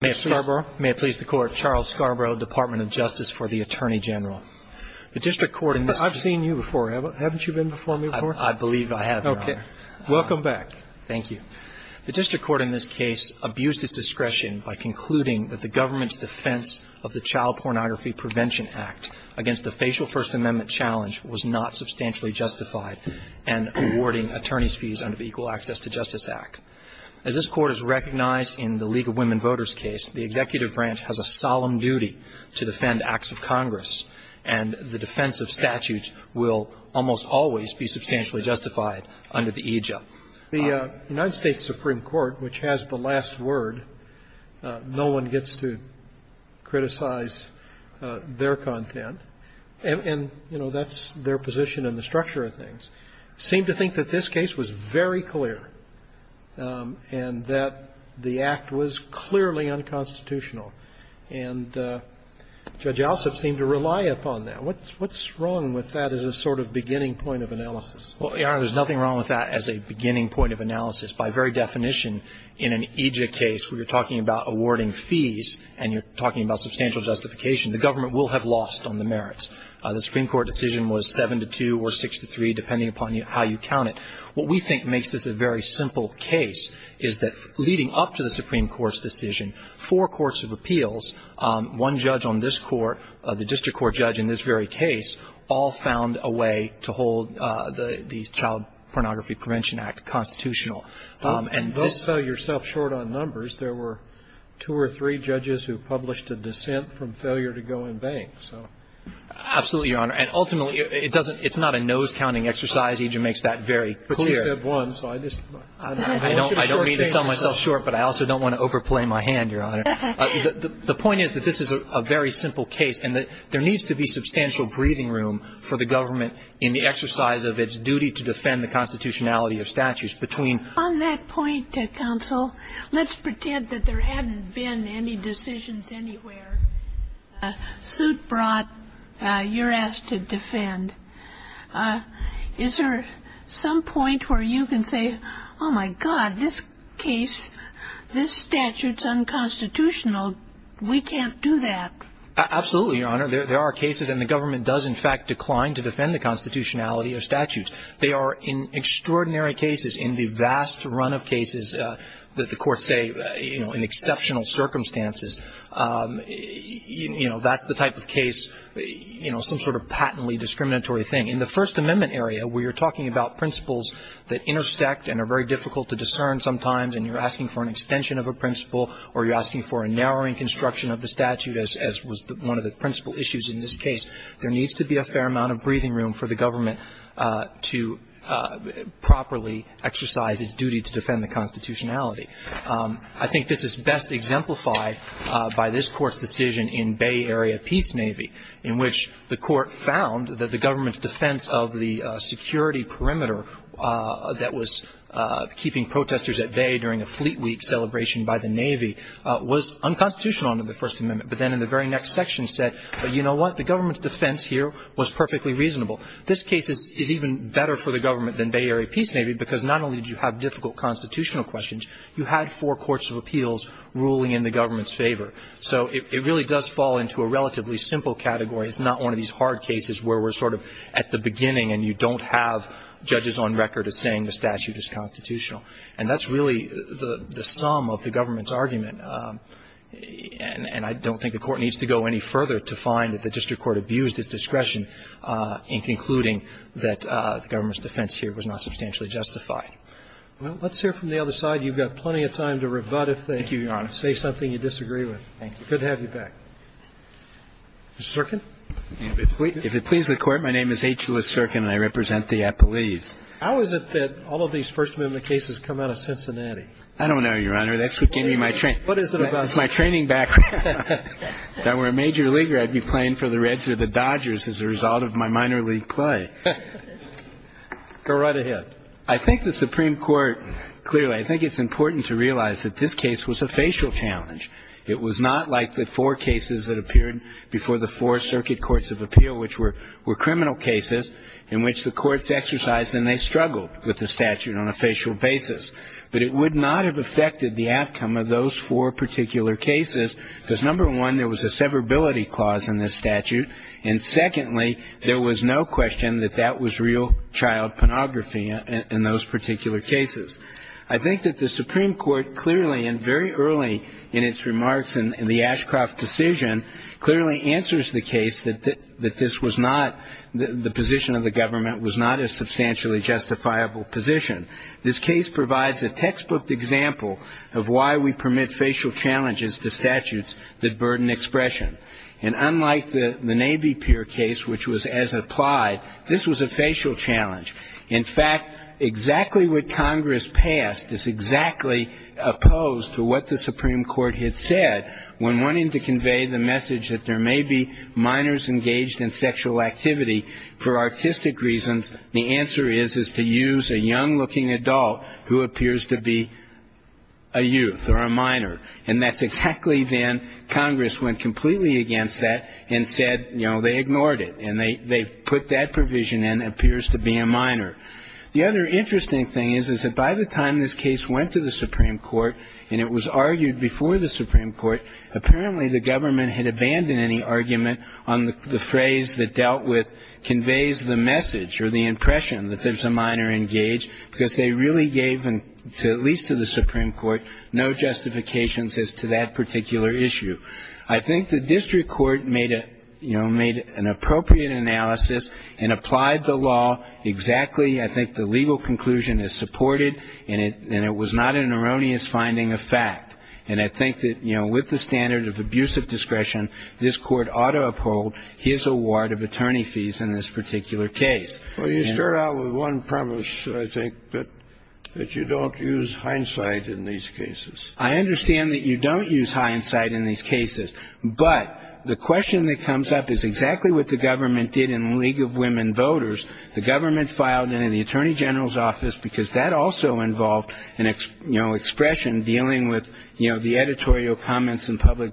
May it please the Court, Charles Scarborough, Department of Justice for the Attorney General. The district court in this case- But I've seen you before. Haven't you been before me before? I believe I have, Your Honor. Okay. Welcome back. Thank you. The district court in this case abused its discretion by concluding that the government's defense of the Child Pornography Prevention Act against the facial First Amendment challenge was not substantially justified and awarding attorneys' fees under the Equal Access to Justice Act. As this Court has recognized in the League of Women Voters case, the executive branch has a solemn duty to defend acts of Congress, and the defense of statutes will almost always be substantially justified under the EJUPT. The United States Supreme Court, which has the last word, no one gets to criticize their content, and, you know, that's their position in the structure of things, seemed to think that this case was very clear and that the act was clearly unconstitutional. And Judge Alsop seemed to rely upon that. What's wrong with that as a sort of beginning point of analysis? Well, Your Honor, there's nothing wrong with that as a beginning point of analysis. By very definition, in an EJUPT case where you're talking about awarding fees and you're talking about substantial justification, the government will have lost on the merits. The Supreme Court decision was 7-2 or 6-3, depending upon how you count it. What we think makes this a very simple case is that leading up to the Supreme Court's decision, four courts of appeals, one judge on this court, the district court judge in this very case, all found a way to hold the Child Pornography Prevention Act constitutional. And this one was a very simple case. Absolutely, Your Honor. And ultimately, it doesn't — it's not a nose-counting exercise. EJU makes that very clear. But you said one, so I just — I don't mean to sell myself short, but I also don't want to overplay my hand, Your Honor. The point is that this is a very simple case and that there needs to be substantial breathing room for the government in the exercise of its duty to defend the constitutionality of statutes between — On that point, counsel, let's pretend that there hadn't been any decisions anywhere. The suit brought, you're asked to defend. Is there some point where you can say, oh, my God, this case, this statute's unconstitutional. We can't do that. Absolutely, Your Honor. There are cases, and the government does, in fact, decline to defend the constitutionality of statutes. They are extraordinary cases in the vast run of cases that the courts say, you know, in exceptional circumstances. You know, that's the type of case, you know, some sort of patently discriminatory thing. In the First Amendment area, where you're talking about principles that intersect and are very difficult to discern sometimes and you're asking for an extension of a principle or you're asking for a narrowing construction of the statute, as was one of the principle issues in this case, there needs to be a fair amount of breathing room for the government to properly exercise its duty to defend the constitutionality. I think this is best exemplified by this Court's decision in Bay Area Peace Navy, in which the Court found that the government's defense of the security perimeter that was keeping protesters at bay during a fleet week celebration by the Navy was unconstitutional under the First Amendment, but then in the very next section said, you know what, the government's defense here was perfectly reasonable. This case is even better for the government than Bay Area Peace Navy because not only did you have difficult constitutional questions, you had four courts of appeals ruling in the government's favor. So it really does fall into a relatively simple category. It's not one of these hard cases where we're sort of at the beginning and you don't have judges on record as saying the statute is constitutional. And that's really the sum of the government's argument. And I don't think the Court needs to go any further to find that the district court abused its discretion in concluding that the government's defense here was not unconstitutional under the First Amendment. Thank you. Well, let's hear from the other side. You've got plenty of time to rebut if they say something you disagree with. Thank you, Your Honor. Good to have you back. Mr. Zirkin. If it pleases the Court, my name is H. Lewis Zirkin and I represent the Appalese. How is it that all of these First Amendment cases come out of Cincinnati? I don't know, Your Honor. That's what gave me my training. What is it about Cincinnati? It's my training background. If I were a major leaguer, I'd be playing for the Reds or the Dodgers as a result of my minor league play. Go right ahead. I think the Supreme Court clearly, I think it's important to realize that this case was a facial challenge. It was not like the four cases that appeared before the four circuit courts of appeal, which were criminal cases in which the courts exercised and they struggled with the statute on a facial basis. But it would not have affected the outcome of those four particular cases because, number one, there was a severability clause in this statute, and secondly there was no question that that was real child pornography in those particular cases. I think that the Supreme Court clearly and very early in its remarks in the Ashcroft decision clearly answers the case that this was not, the position of the government was not a substantially justifiable position. This case provides a textbook example of why we permit facial challenges to statutes that burden expression. And unlike the Navy Pier case, which was as applied, this was a facial challenge. In fact, exactly what Congress passed is exactly opposed to what the Supreme Court had said when wanting to convey the message that there may be minors engaged in sexual activity for artistic reasons. The answer is, is to use a young-looking adult who appears to be a youth or a minor. And that's exactly then Congress went completely against that and said, you know, they ignored it. And they put that provision in, appears to be a minor. The other interesting thing is, is that by the time this case went to the Supreme Court and it was argued before the Supreme Court, apparently the government had abandoned any argument on the phrase that dealt with which conveys the message or the impression that there's a minor engaged because they really gave, at least to the Supreme Court, no justifications as to that particular issue. I think the district court made an appropriate analysis and applied the law exactly. I think the legal conclusion is supported. And it was not an erroneous finding of fact. And I think that with the standard of abusive discretion, this court ought to uphold his award of attorney fees in this particular case. Well, you start out with one premise, I think, that you don't use hindsight in these cases. I understand that you don't use hindsight in these cases. But the question that comes up is exactly what the government did in League of Women Voters. The government filed it in the attorney general's office because that also involved, you know,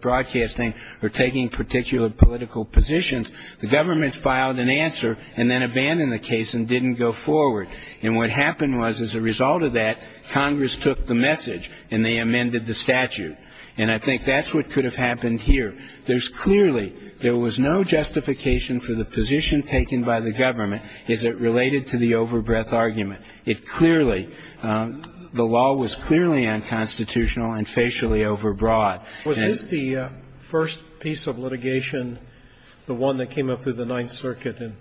broadcasting or taking particular political positions. The government filed an answer and then abandoned the case and didn't go forward. And what happened was, as a result of that, Congress took the message and they amended the statute. And I think that's what could have happened here. There's clearly no justification for the position taken by the government as it related to the overbreadth argument. It clearly, the law was clearly unconstitutional and facially overbroad. Was this the first piece of litigation, the one that came up through the Ninth Circuit and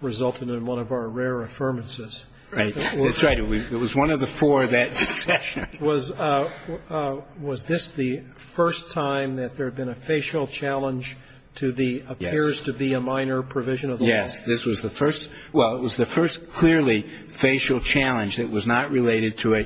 resulted in one of our rare affirmances? That's right. It was one of the four that session. Was this the first time that there had been a facial challenge to the appears-to-be-a-minor provision of the law? Yes. This was the first. Well, it was the first clearly facial challenge that was not related to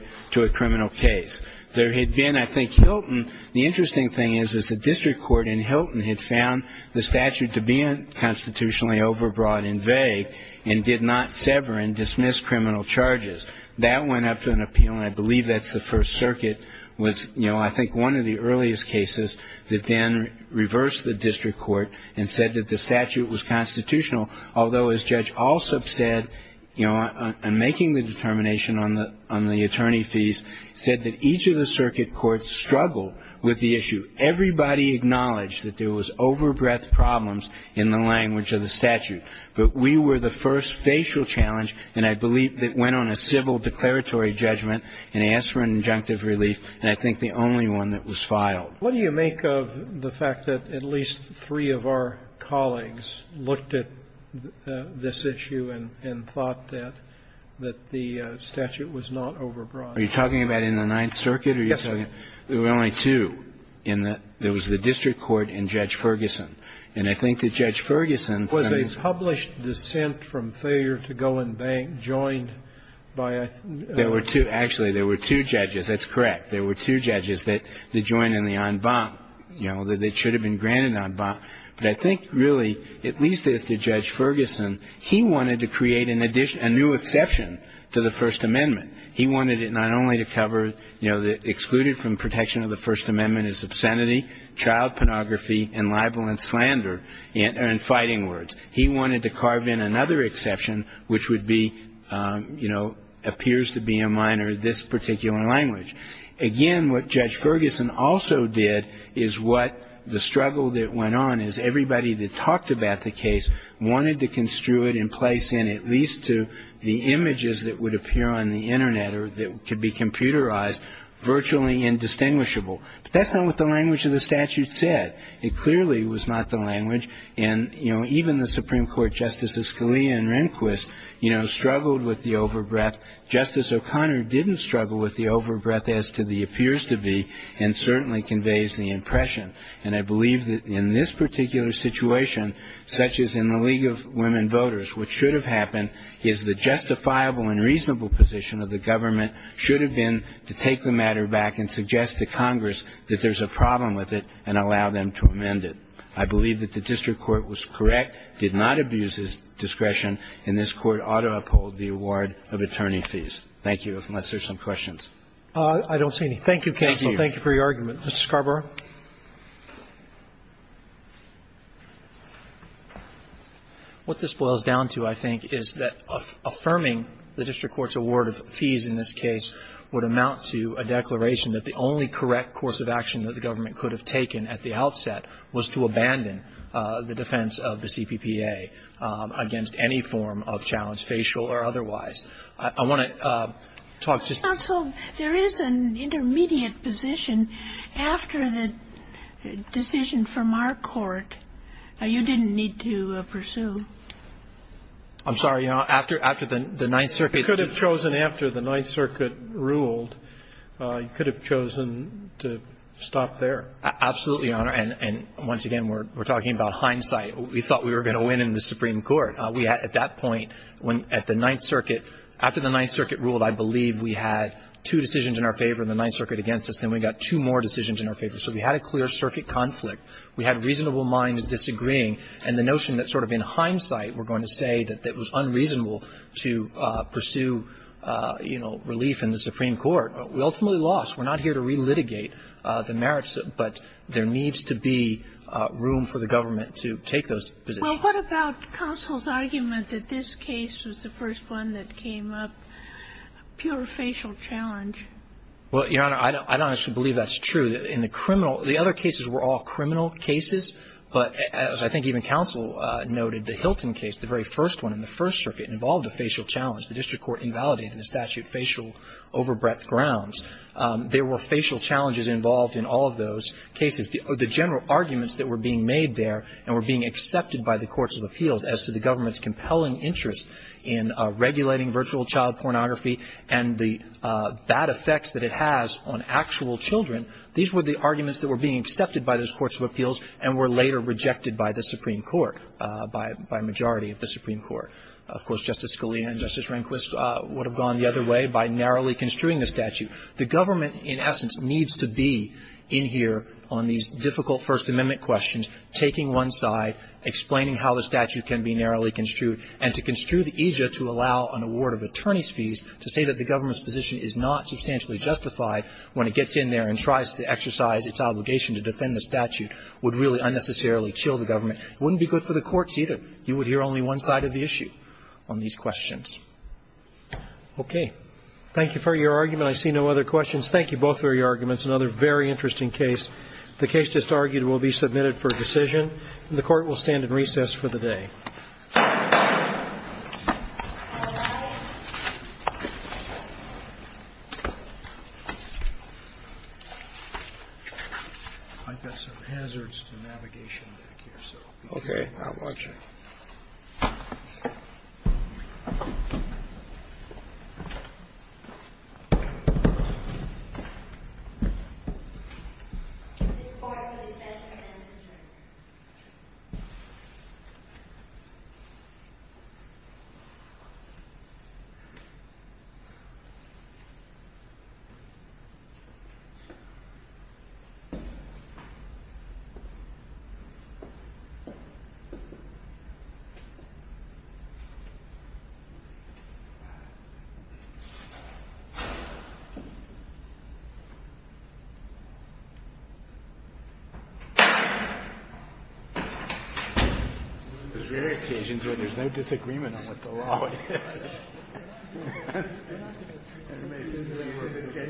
a criminal case. There had been, I think, Hilton. The interesting thing is, is the district court in Hilton had found the statute to be constitutionally overbroad and vague and did not sever and dismiss criminal charges. That went up to an appeal, and I believe that's the First Circuit, was, you know, I think one of the earliest cases that then reversed the district court and said that the statute was constitutional, although, as Judge Alsup said, you know, in making the determination on the attorney fees, said that each of the circuit courts struggled with the issue. Everybody acknowledged that there was overbreadth problems in the language of the statute. But we were the first facial challenge, and I believe that went on a civil declaratory judgment and asked for an injunctive relief, and I think the only one that was filed. What do you make of the fact that at least three of our colleagues looked at this issue and thought that the statute was not overbroad? Are you talking about in the Ninth Circuit? Yes, I am. There were only two in the – there was the district court and Judge Ferguson. And I think that Judge Ferguson – Was a published dissent from failure to go and bank joined by a – There were two. Actually, there were two judges. That's correct. There were two judges that joined in the en bas, you know, that should have been granted en bas, but I think really, at least as to Judge Ferguson, he wanted to create a new exception to the First Amendment. He wanted it not only to cover, you know, excluded from protection of the First Amendment is obscenity, child pornography, and libel and slander, and fighting words. He wanted to carve in another exception, which would be, you know, appears to be a minor in this particular language. Again, what Judge Ferguson also did is what the struggle that went on is everybody that talked about the case wanted to construe it in place in at least to the images that would appear on the Internet or that could be computerized virtually indistinguishable. But that's not what the language of the statute said. It clearly was not the language. And, you know, even the Supreme Court, Justices Scalia and Rehnquist, you know, struggled with the over-breath. Justice O'Connor didn't struggle with the over-breath as to the appears to be and certainly conveys the impression. And I believe that in this particular situation, such as in the League of Women Judges, the only reasonable position of the government should have been to take the matter back and suggest to Congress that there's a problem with it and allow them to amend it. I believe that the district court was correct, did not abuse its discretion, and this Court ought to uphold the award of attorney fees. Thank you, unless there's some questions. Roberts. I don't see any. Thank you, counsel. Thank you for your argument. Mr. Scarborough. What this boils down to, I think, is that affirming the district court's award of fees in this case would amount to a declaration that the only correct course of action that the government could have taken at the outset was to abandon the defense of the CPPA against any form of challenge, facial or otherwise. I want to talk to you. Counsel, there is an intermediate position. After the decision from our court, you didn't need to pursue. I'm sorry, Your Honor. After the Ninth Circuit. You could have chosen after the Ninth Circuit ruled. You could have chosen to stop there. Absolutely, Your Honor. And once again, we're talking about hindsight. We thought we were going to win in the Supreme Court. At that point, at the Ninth Circuit, after the Ninth Circuit ruled, I believe we had two decisions in our favor in the Ninth Circuit against us. Then we got two more decisions in our favor. So we had a clear circuit conflict. We had reasonable minds disagreeing. And the notion that sort of in hindsight we're going to say that it was unreasonable to pursue, you know, relief in the Supreme Court, we ultimately lost. We're not here to relitigate the merits, but there needs to be room for the government to take those positions. What about counsel's argument that this case was the first one that came up, pure facial challenge? Well, Your Honor, I don't actually believe that's true. In the criminal, the other cases were all criminal cases. But as I think even counsel noted, the Hilton case, the very first one in the First Circuit, involved a facial challenge. The district court invalidated the statute facial overbreadth grounds. There were facial challenges involved in all of those cases. The general arguments that were being made there and were being accepted by the courts of appeals as to the government's compelling interest in regulating virtual child pornography and the bad effects that it has on actual children, these were the arguments that were being accepted by those courts of appeals and were later rejected by the Supreme Court, by a majority of the Supreme Court. Of course, Justice Scalia and Justice Rehnquist would have gone the other way by narrowly construing the statute. The government, in essence, needs to be in here on these difficult First Amendment questions, taking one side, explaining how the statute can be narrowly construed. And to construe the aegis to allow an award of attorney's fees to say that the government's position is not substantially justified when it gets in there and tries to exercise its obligation to defend the statute would really unnecessarily chill the government. It wouldn't be good for the courts either. You would hear only one side of the issue on these questions. Okay. Thank you for your argument. I see no other questions. Thank you both for your arguments. Another very interesting case. The case just argued will be submitted for decision, and the Court will stand in recess for the day. I've got some hazards to navigation back here. Okay. I'm watching. Okay. There's rare occasions when there's no disagreement on what the law is. Okay.